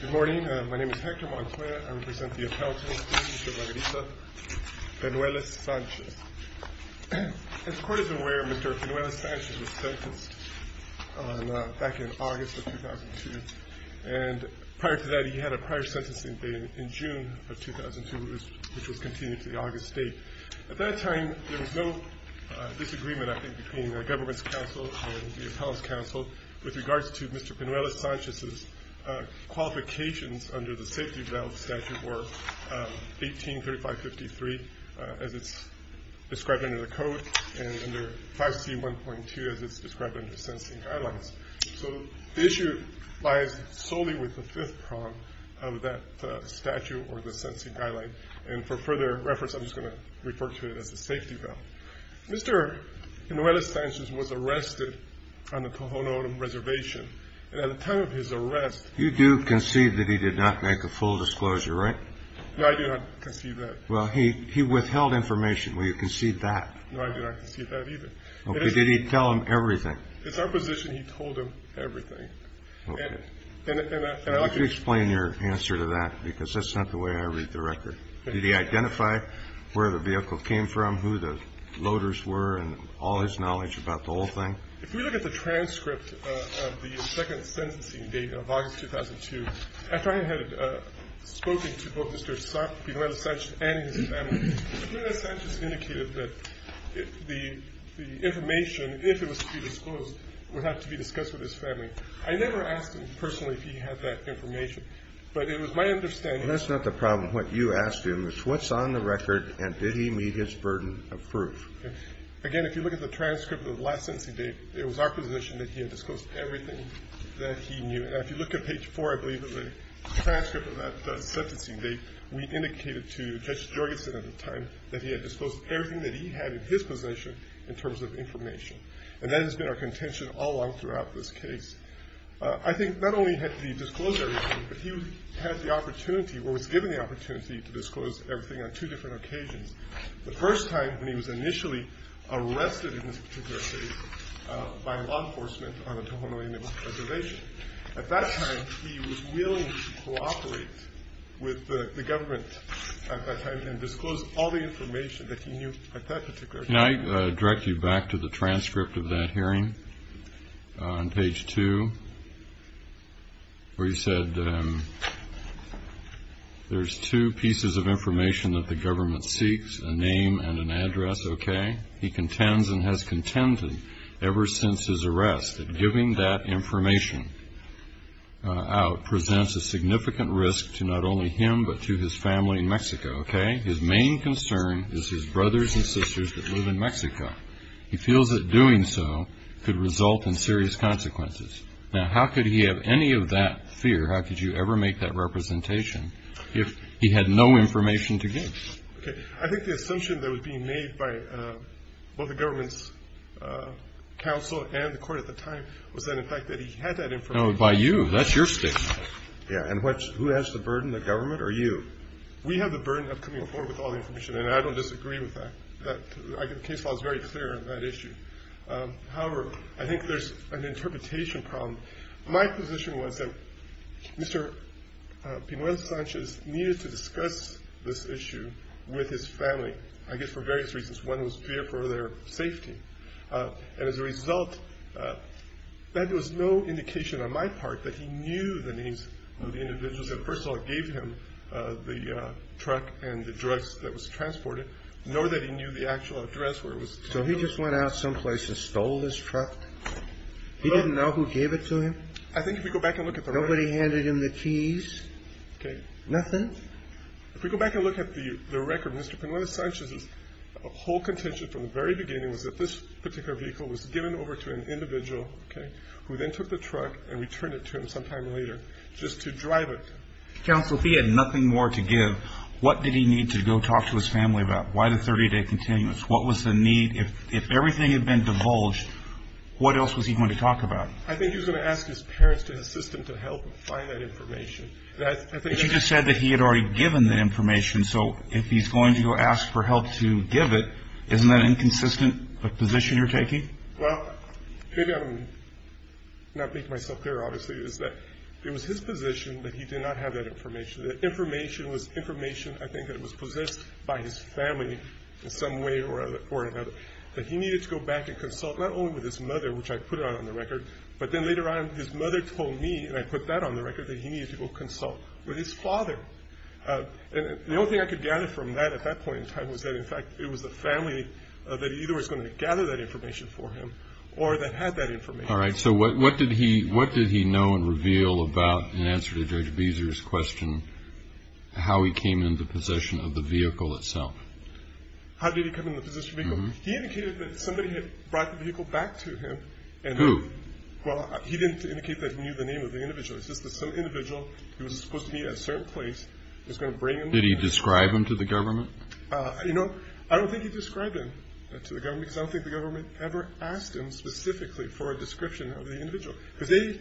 Good morning, my name is Hector Montoya. I represent the Appellate Court in La Gariza, Pinuelas-Sanchez. As the Court is aware, Mr. Pinuelas-Sanchez was sentenced back in August of 2002. And prior to that, he had a prior sentencing date in June of 2002, which was continued to the August date. At that time, there was no disagreement, I think, between the Government's counsel and the Appellate's counsel with regards to Mr. Pinuelas-Sanchez's qualifications under the Safety Belt Statute or 183553 as it's described under the Code and under 5C.1.2 as it's described under the Sentencing Guidelines. So the issue lies solely with the fifth prong of that statute or the Sentencing Guidelines. And for further reference, I'm just going to refer to it as the Safety Belt. Mr. Pinuelas-Sanchez was arrested on the Tohono O'odham Reservation. And at the time of his arrest... You do concede that he did not make a full disclosure, right? No, I do not concede that. Well, he withheld information. Will you concede that? No, I do not concede that either. Okay, did he tell them everything? It's our position he told them everything. Okay. And I like to... Why don't you explain your answer to that, because that's not the way I read the record. Did he identify where the vehicle came from, who the loaders were, and all his knowledge about the whole thing? If you look at the transcript of the second sentencing date of August 2002, after I had spoken to both Mr. Pinuelas-Sanchez and his family, Mr. Pinuelas-Sanchez indicated that the information, if it was to be disclosed, would have to be discussed with his family. I never asked him personally if he had that information, but it was my understanding... Well, that's not the problem. What you asked him is what's on the record, and did he meet his burden of proof? Again, if you look at the transcript of the last sentencing date, it was our position that he had disclosed everything that he knew. And if you look at page 4, I believe, of the transcript of that sentencing date, we indicated to Judge Jorgensen at the time that he had disclosed everything that he had in his position in terms of information. And that has been our contention all along throughout this case. I think not only had he disclosed everything, but he had the opportunity or was given the opportunity to disclose everything on two different occasions. The first time when he was initially arrested in this particular case by law enforcement on the Tohono O'odham Reservation. At that time, he was willing to cooperate with the government at that time and disclose all the information that he knew at that particular time. Can I direct you back to the transcript of that hearing on page 2, where you said there's two pieces of information that the government seeks, a name and an address, okay? He contends and has contended ever since his arrest that giving that information out presents a significant risk to not only him but to his family in Mexico, okay? His main concern is his brothers and sisters that live in Mexico. He feels that doing so could result in serious consequences. Now, how could he have any of that fear, how could you ever make that representation, if he had no information to give? Okay. I think the assumption that was being made by both the government's counsel and the court at the time was that in fact that he had that information. No, by you. That's your statement. Yeah. And who has the burden, the government or you? We have the burden of coming forward with all the information, and I don't disagree with that. The case law is very clear on that issue. However, I think there's an interpretation problem. My position was that Mr. Pinoel Sanchez needed to discuss this issue with his family, I guess for various reasons. One was fear for their safety. And as a result, there was no indication on my part that he knew the names of the individuals. First of all, it gave him the truck and the drugs that was transported, nor that he knew the actual address where it was. So he just went out someplace and stole this truck? He didn't know who gave it to him? I think if we go back and look at the record. Nobody handed him the keys? Okay. Nothing? If we go back and look at the record, Mr. Pinoel Sanchez's whole contention from the very beginning was that this particular vehicle was given over to an individual, okay, who then took the truck and returned it to him sometime later just to drive it. Counsel, if he had nothing more to give, what did he need to go talk to his family about? Why the 30-day continuance? What was the need? If everything had been divulged, what else was he going to talk about? I think he was going to ask his parents to assist him to help him find that information. But you just said that he had already given the information, so if he's going to go ask for help to give it, isn't that inconsistent with the position you're taking? Well, maybe I'm not making myself clear, obviously, is that it was his position that he did not have that information. The information was information, I think, that was possessed by his family in some way or another that he needed to go back and consult not only with his mother, which I put on the record, but then later on his mother told me, and I put that on the record, that he needed to go consult with his father. And the only thing I could gather from that at that point in time was that, in fact, it was the family that either was going to gather that information for him or that had that information. All right. So what did he know and reveal about, in answer to Judge Beezer's question, how he came into possession of the vehicle itself? How did he come into possession of the vehicle? He indicated that somebody had brought the vehicle back to him. Who? Well, he didn't indicate that he knew the name of the individual. It's just that some individual who was supposed to be at a certain place was going to bring him there. Did he describe him to the government? You know, I don't think he described him to the government because I don't think the government ever asked him specifically for a description of the individual because they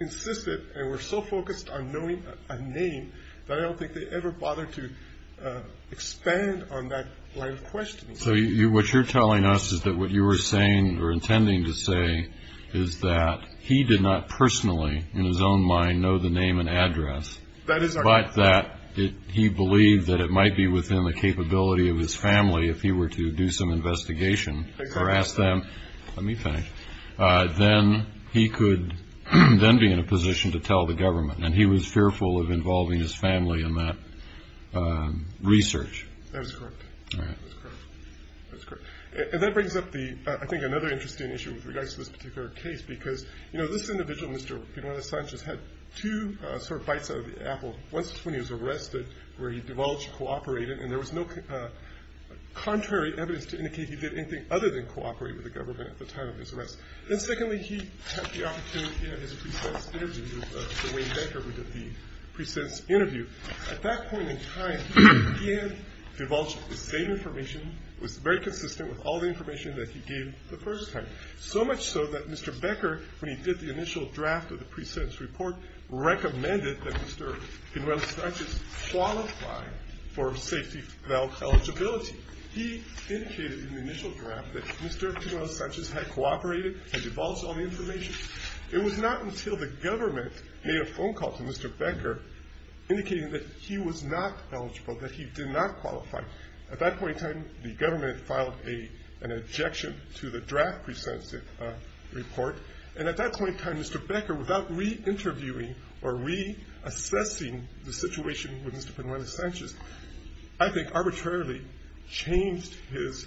insisted and were so focused on knowing a name that I don't think they ever bothered to expand on that line of questioning. So what you're telling us is that what you were saying or intending to say is that he did not personally in his own mind know the name and address. That is correct. It's just that he believed that it might be within the capability of his family if he were to do some investigation or ask them, let me finish, then he could then be in a position to tell the government, and he was fearful of involving his family in that research. That is correct. All right. That's correct. And that brings up the, I think, another interesting issue with regards to this particular case because, you know, this individual, Mr. Pinole-Sanchez, had two sort of bites out of the apple. One was when he was arrested where he divulged cooperated and there was no contrary evidence to indicate he did anything other than cooperate with the government at the time of his arrest. And secondly, he had the opportunity in his pre-sentence interview, Mr. Wayne Becker, who did the pre-sentence interview. At that point in time, he had divulged the same information, was very consistent with all the information that he gave the first time, so much so that Mr. Becker, when he did the initial draft of the pre-sentence report, recommended that Mr. Pinole-Sanchez qualify for safety belt eligibility. He indicated in the initial draft that Mr. Pinole-Sanchez had cooperated and divulged all the information. It was not until the government made a phone call to Mr. Becker indicating that he was not eligible, that he did not qualify. At that point in time, the government filed an objection to the draft pre-sentence report. And at that point in time, Mr. Becker, without re-interviewing or re-assessing the situation with Mr. Pinole-Sanchez, I think arbitrarily changed his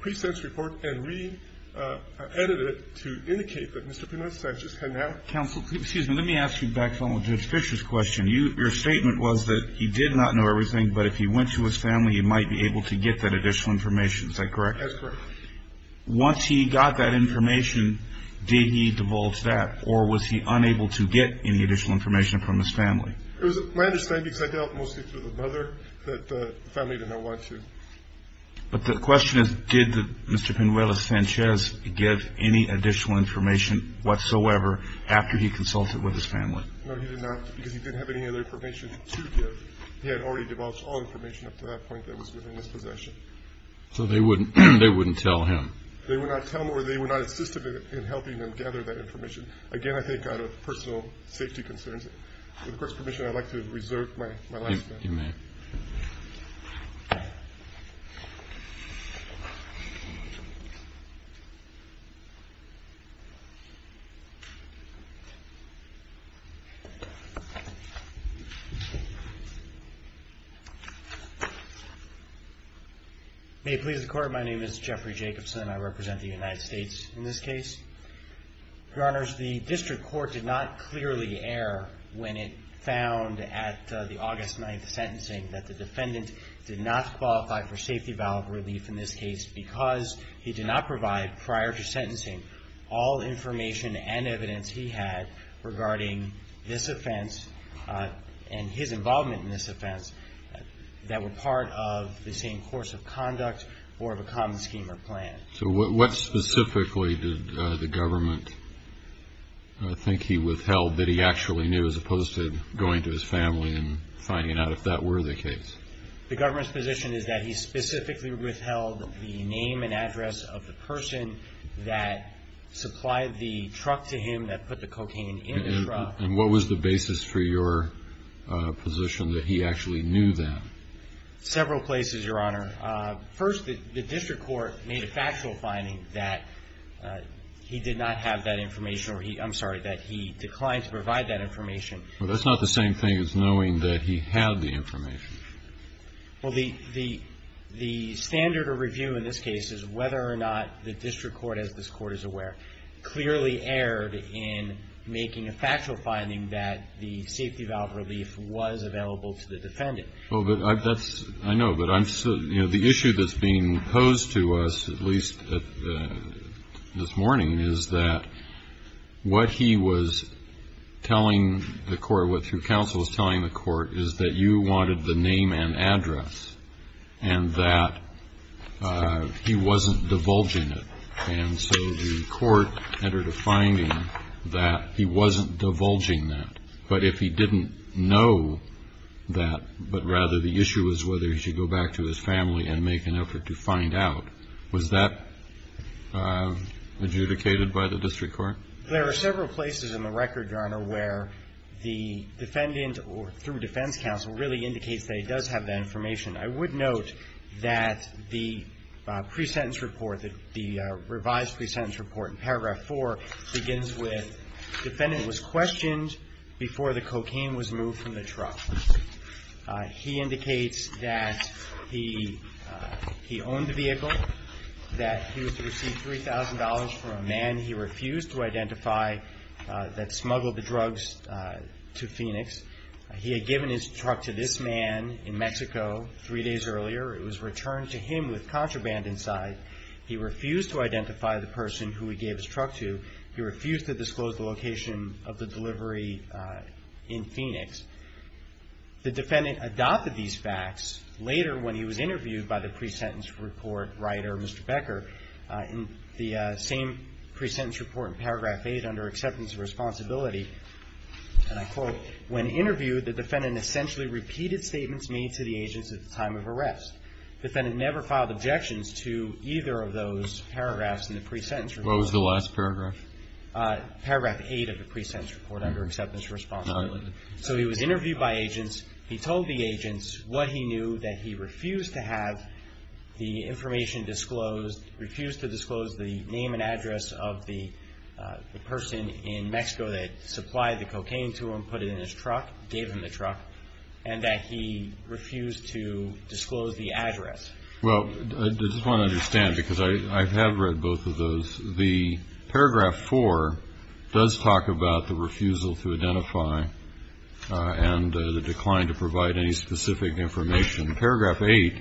pre-sentence report and re-edited it to indicate that Mr. Pinole-Sanchez had not. Counsel, excuse me. Let me ask you back to Judge Fisher's question. Your statement was that he did not know everything, but if he went to his family, he might be able to get that additional information. Is that correct? That's correct. Once he got that information, did he divulge that, or was he unable to get any additional information from his family? It was my understanding, because I dealt mostly with the mother, that the family did not want to. But the question is, did Mr. Pinole-Sanchez give any additional information whatsoever after he consulted with his family? No, he did not, because he didn't have any other information to give. He had already divulged all information up to that point that was within his possession. So they wouldn't tell him. They would not tell him, or they would not assist him in helping him gather that information. Again, I think out of personal safety concerns. With the Court's permission, I'd like to reserve my last minute. You may. May it please the Court. My name is Jeffrey Jacobson. I represent the United States in this case. Your Honors, the District Court did not clearly err when it found at the August 9th sentencing that the defendant did not qualify for safety valve relief in this case because he did not provide, prior to sentencing, all information and evidence he had regarding this offense and his involvement in this offense that were part of the same course of conduct or of a common scheme or plan. So what specifically did the government think he withheld that he actually knew, as opposed to going to his family and finding out if that were the case? The government's position is that he specifically withheld the name and address of the person that supplied the truck to him that put the cocaine in the truck. And what was the basis for your position that he actually knew that? Several places, Your Honor. First, the District Court made a factual finding that he did not have that information or he, I'm sorry, that he declined to provide that information. Well, that's not the same thing as knowing that he had the information. Well, the standard of review in this case is whether or not the District Court, as this Court is aware, clearly erred in making a factual finding that the safety valve relief was available to the defendant. I know, but the issue that's being posed to us, at least this morning, is that what he was telling the court, what your counsel was telling the court, is that you wanted the name and address and that he wasn't divulging it. And so the court entered a finding that he wasn't divulging that. But if he didn't know that, but rather the issue was whether he should go back to his family and make an effort to find out, was that adjudicated by the District Court? There are several places in the record, Your Honor, where the defendant or through defense counsel really indicates that he does have that information. I would note that the pre-sentence report, the revised pre-sentence report in paragraph 4, begins with defendant was questioned before the cocaine was moved from the truck. He indicates that he owned the vehicle, that he was to receive $3,000 from a man he refused to identify that smuggled the drugs to Phoenix. He had given his truck to this man in Mexico three days earlier. It was returned to him with contraband inside. He refused to identify the person who he gave his truck to. He refused to disclose the location of the delivery in Phoenix. The defendant adopted these facts later when he was interviewed by the pre-sentence report writer, Mr. Becker, in the same pre-sentence report in paragraph 8 under acceptance of responsibility, and I quote, when interviewed, the defendant essentially repeated statements made to the agents at the time of arrest. The defendant never filed objections to either of those paragraphs in the pre-sentence report. What was the last paragraph? Paragraph 8 of the pre-sentence report under acceptance of responsibility. So he was interviewed by agents. He told the agents what he knew, that he refused to have the information disclosed, refused to disclose the name and address of the person in Mexico that supplied the cocaine to him, put it in his truck, gave him the truck, and that he refused to disclose the address. Well, I just want to understand, because I have read both of those. The paragraph 4 does talk about the refusal to identify and the decline to provide any specific information. Paragraph 8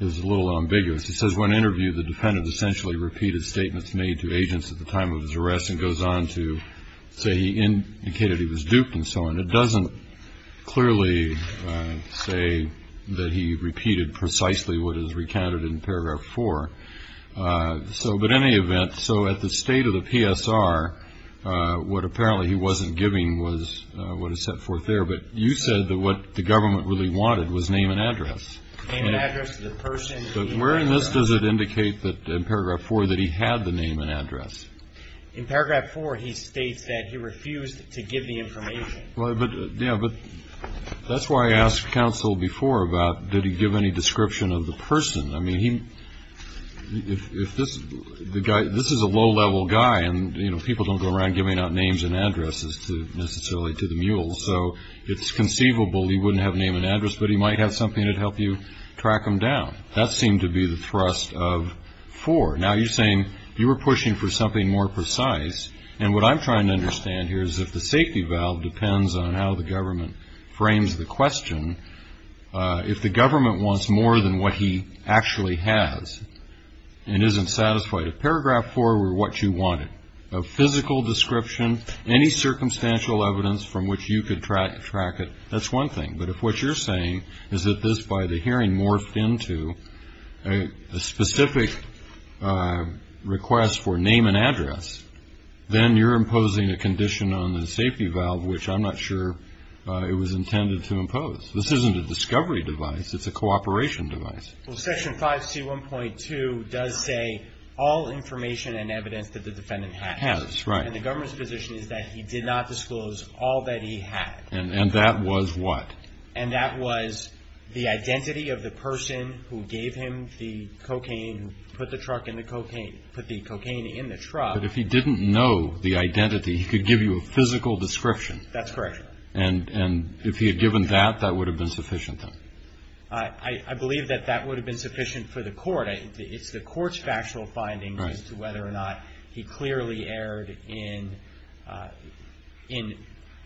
is a little ambiguous. It says when interviewed, the defendant essentially repeated statements made to agents at the time of his arrest and goes on to say he indicated he was duped and so on. It doesn't clearly say that he repeated precisely what is recounted in paragraph 4. But in any event, so at the state of the PSR, what apparently he wasn't giving was what is set forth there. But you said that what the government really wanted was name and address. Name and address of the person. But where in this does it indicate that in paragraph 4 that he had the name and address? In paragraph 4, he states that he refused to give the information. Yeah, but that's why I asked counsel before about did he give any description of the person. I mean, if this is a low-level guy, and, you know, people don't go around giving out names and addresses necessarily to the mules, so it's conceivable he wouldn't have name and address, but he might have something that would help you track him down. That seemed to be the thrust of 4. Now, you're saying you were pushing for something more precise, and what I'm trying to understand here is if the safety valve depends on how the government frames the question, if the government wants more than what he actually has and isn't satisfied, if paragraph 4 were what you wanted, a physical description, any circumstantial evidence from which you could track it, that's one thing. But if what you're saying is that this, by the hearing, morphed into a specific request for name and address, then you're imposing a condition on the safety valve, which I'm not sure it was intended to impose. This isn't a discovery device. It's a cooperation device. Well, Section 5C1.2 does say all information and evidence that the defendant has. Has, right. And the government's position is that he did not disclose all that he had. And that was what? And that was the identity of the person who gave him the cocaine, put the cocaine in the truck. But if he didn't know the identity, he could give you a physical description. That's correct. And if he had given that, that would have been sufficient, then? I believe that that would have been sufficient for the court. It's the court's factual findings as to whether or not he clearly erred in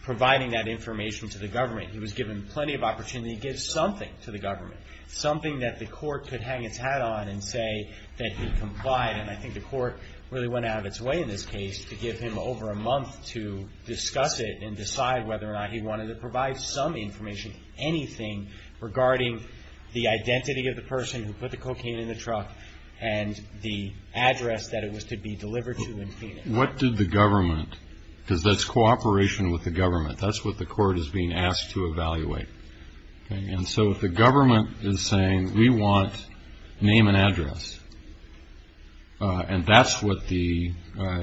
providing that information to the government. He was given plenty of opportunity to give something to the government, something that the court could hang its hat on and say that he complied. And I think the court really went out of its way in this case to give him over a month to discuss it and decide whether or not he wanted to provide some information, anything, regarding the identity of the person who put the cocaine in the truck and the address that it was to be delivered to in Phoenix. What did the government, because that's cooperation with the government, that's what the court is being asked to evaluate. And so if the government is saying, we want name and address, and that's what the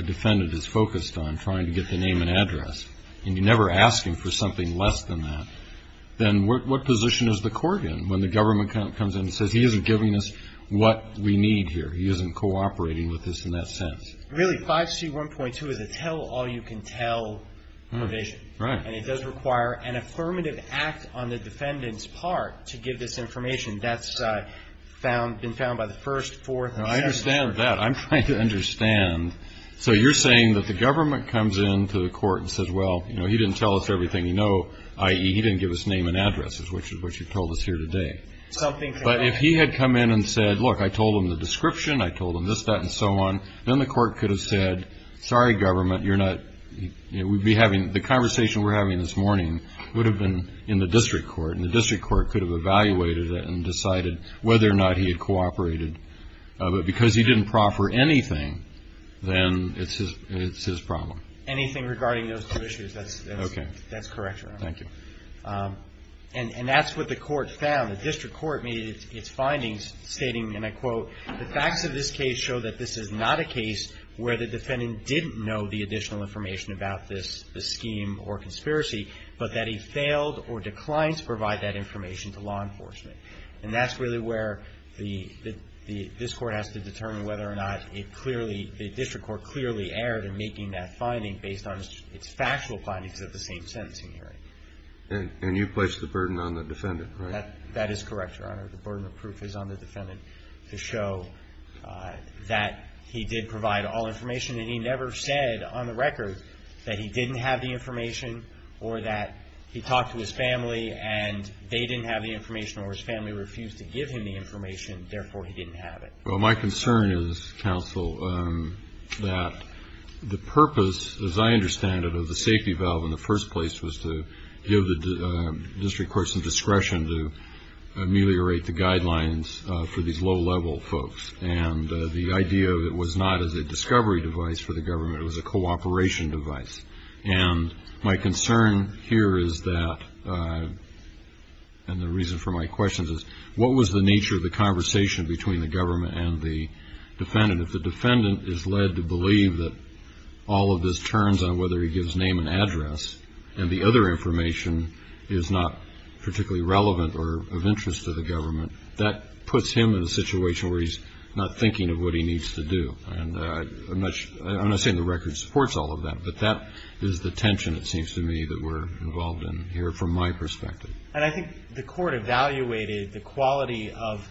defendant is focused on, trying to get the name and address, and you're never asking for something less than that, then what position is the court in when the government comes in and says he isn't giving us what we need here, he isn't cooperating with us in that sense? Really, 5C1.2 is a tell-all-you-can-tell provision. Right. And it does require an affirmative act on the defendant's part to give this information. And that's been found by the first, fourth, and seventh. I understand that. I'm trying to understand. So you're saying that the government comes in to the court and says, well, you know, he didn't tell us everything you know, i.e., he didn't give us name and address, which is what you told us here today. But if he had come in and said, look, I told him the description, I told him this, that, and so on, then the court could have said, sorry, government, you're not ñ the conversation we're having this morning would have been in the district court, and the district court could have evaluated it and decided whether or not he had cooperated. But because he didn't proffer anything, then it's his problem. Anything regarding those two issues, that's correct, Your Honor. Thank you. And that's what the court found. The district court made its findings, stating, and I quote, the facts of this case show that this is not a case where the defendant didn't know the additional information about this scheme or conspiracy, but that he failed or declined to provide that information to law enforcement. And that's really where the ñ this court has to determine whether or not it clearly ñ the district court clearly erred in making that finding based on its factual findings of the same sentencing hearing. And you place the burden on the defendant, right? That is correct, Your Honor. The burden of proof is on the defendant to show that he did provide all information, and he never said on the record that he didn't have the information or that he talked to his family and they didn't have the information or his family refused to give him the information, therefore he didn't have it. Well, my concern is, counsel, that the purpose, as I understand it, of the safety valve in the first place was to give the district court some discretion to ameliorate the guidelines for these low-level folks. And the idea of it was not as a discovery device for the government. It was a cooperation device. And my concern here is that ñ and the reason for my question is, what was the nature of the conversation between the government and the defendant? If the defendant is led to believe that all of this turns on whether he gives name and address and the other information is not particularly relevant or of interest to the government, that puts him in a situation where he's not thinking of what he needs to do. And I'm not saying the record supports all of that, but that is the tension it seems to me that we're involved in here from my perspective. And I think the court evaluated the quality of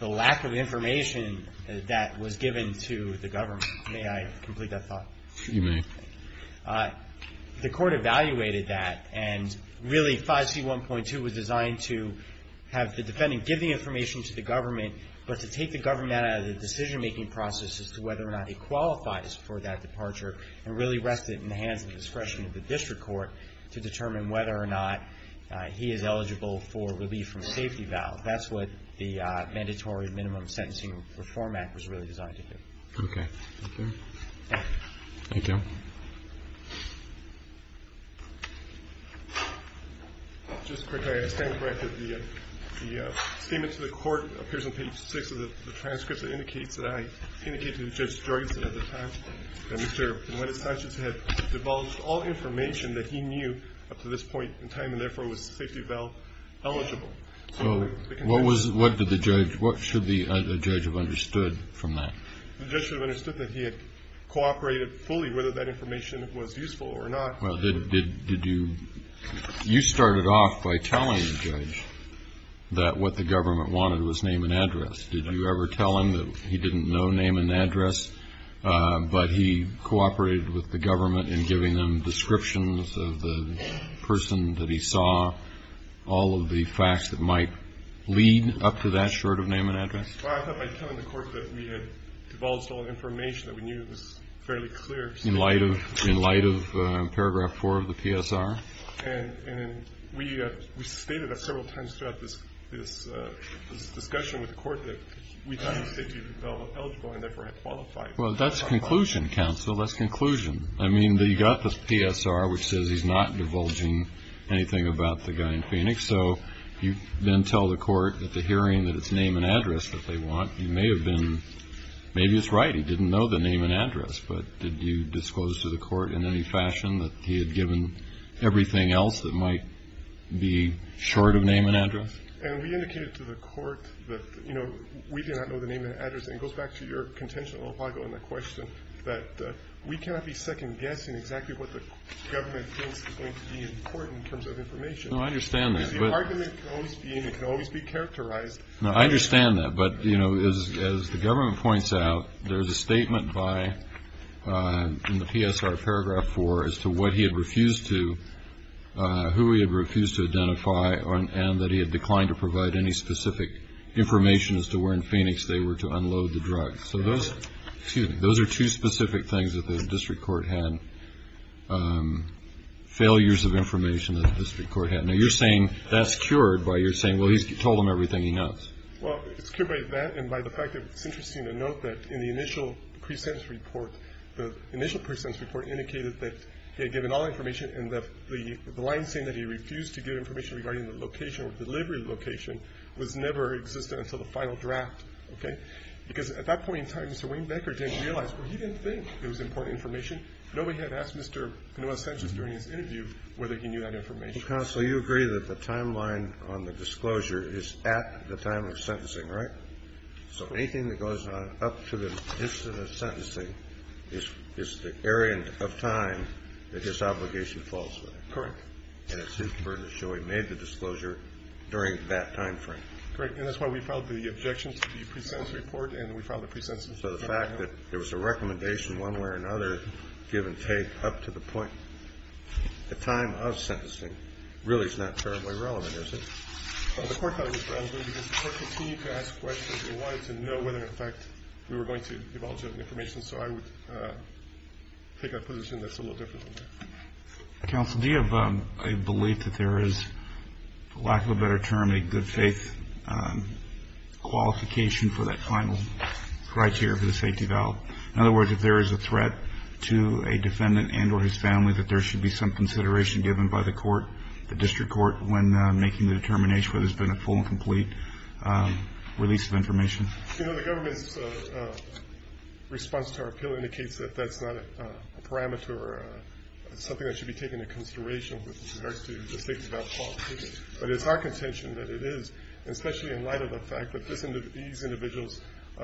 the lack of information that was given to the government. May I complete that thought? You may. The court evaluated that, and really 5C1.2 was designed to have the defendant give the information to the government but to take the government out of the decision-making process as to whether or not he qualifies for that departure and really rest it in the hands of discretion of the district court to determine whether or not he is eligible for relief from safety valve. That's what the Mandatory Minimum Sentencing Reform Act was really designed to do. Okay. Thank you. Thank you. Just quickly, I stand corrected. The statement to the court appears on page 6 of the transcript that indicates that I indicated to Judge Jorgensen at the time that Mr. and Mrs. Sanchez had divulged all information that he knew up to this point in time and therefore was safety valve eligible. So what should the judge have understood from that? The judge should have understood that he had cooperated fully whether that information was useful or not. Well, did you? You started off by telling the judge that what the government wanted was name and address. Did you ever tell him that he didn't know name and address but he cooperated with the government in giving them descriptions of the person that he saw, all of the facts that might lead up to that short of name and address? Well, I started by telling the court that we had divulged all information that we knew was fairly clear. In light of paragraph 4 of the PSR? And we stated several times throughout this discussion with the court that we thought he was safety valve eligible and therefore had qualified. Well, that's a conclusion, counsel. That's a conclusion. I mean, you got the PSR, which says he's not divulging anything about the guy in Phoenix. So you then tell the court at the hearing that it's name and address that they want. You may have been, maybe it's right, he didn't know the name and address, but did you disclose to the court in any fashion that he had given everything else that might be short of name and address? And we indicated to the court that, you know, we did not know the name and address. And it goes back to your contention a little while ago in the question that we cannot be second-guessing exactly what the government thinks is going to be important in terms of information. No, I understand that. Because the argument always being it can always be characterized. No, I understand that. But, you know, as the government points out, there's a statement in the PSR paragraph 4 as to what he had refused to, who he had refused to identify, and that he had declined to provide any specific information as to where in Phoenix they were to unload the drugs. So those are two specific things that the district court had, failures of information that the district court had. Now, you're saying that's cured by you're saying, well, he's told them everything he knows. Well, it's cured by that and by the fact that it's interesting to note that in the initial pre-sentence report, the initial pre-sentence report indicated that he had given all information and that the line saying that he refused to give information regarding the location or delivery location was never existed until the final draft, okay? Because at that point in time, Mr. Wayne Becker didn't realize, well, he didn't think it was important information. Nobody had asked Mr. Pinoa-Sanchez during his interview whether he knew that information. Counsel, you agree that the timeline on the disclosure is at the time of sentencing, right? Correct. So anything that goes on up to the instant of sentencing is the area of time that his obligation falls within. Correct. And it's his burden to show he made the disclosure during that time frame. Correct. And that's why we filed the objection to the pre-sentence report and we filed the pre-sentence report. So the fact that there was a recommendation one way or another, give and take, up to the point, the time of sentencing really is not terribly relevant, is it? Well, the court thought it was relevant because the court continued to ask questions and wanted to know whether, in effect, we were going to divulge any information. So I would take a position that's a little different than that. Counsel, do you have a belief that there is, for lack of a better term, a good faith qualification for that final criteria for the safety valve? In other words, if there is a threat to a defendant and or his family, that there should be some consideration given by the court, the district court, when making the determination whether there's been a full and complete release of information? You know, the government's response to our appeal indicates that that's not a parameter or something that should be taken into consideration with regards to the safety valve qualification. But it's our contention that it is, especially in light of the fact that these individuals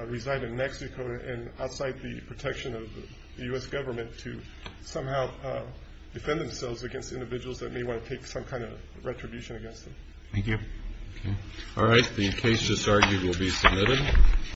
reside in Mexico and outside the protection of the U.S. government, to somehow defend themselves against individuals that may want to take some kind of retribution against them. Thank you. All right. The case just argued will be submitted.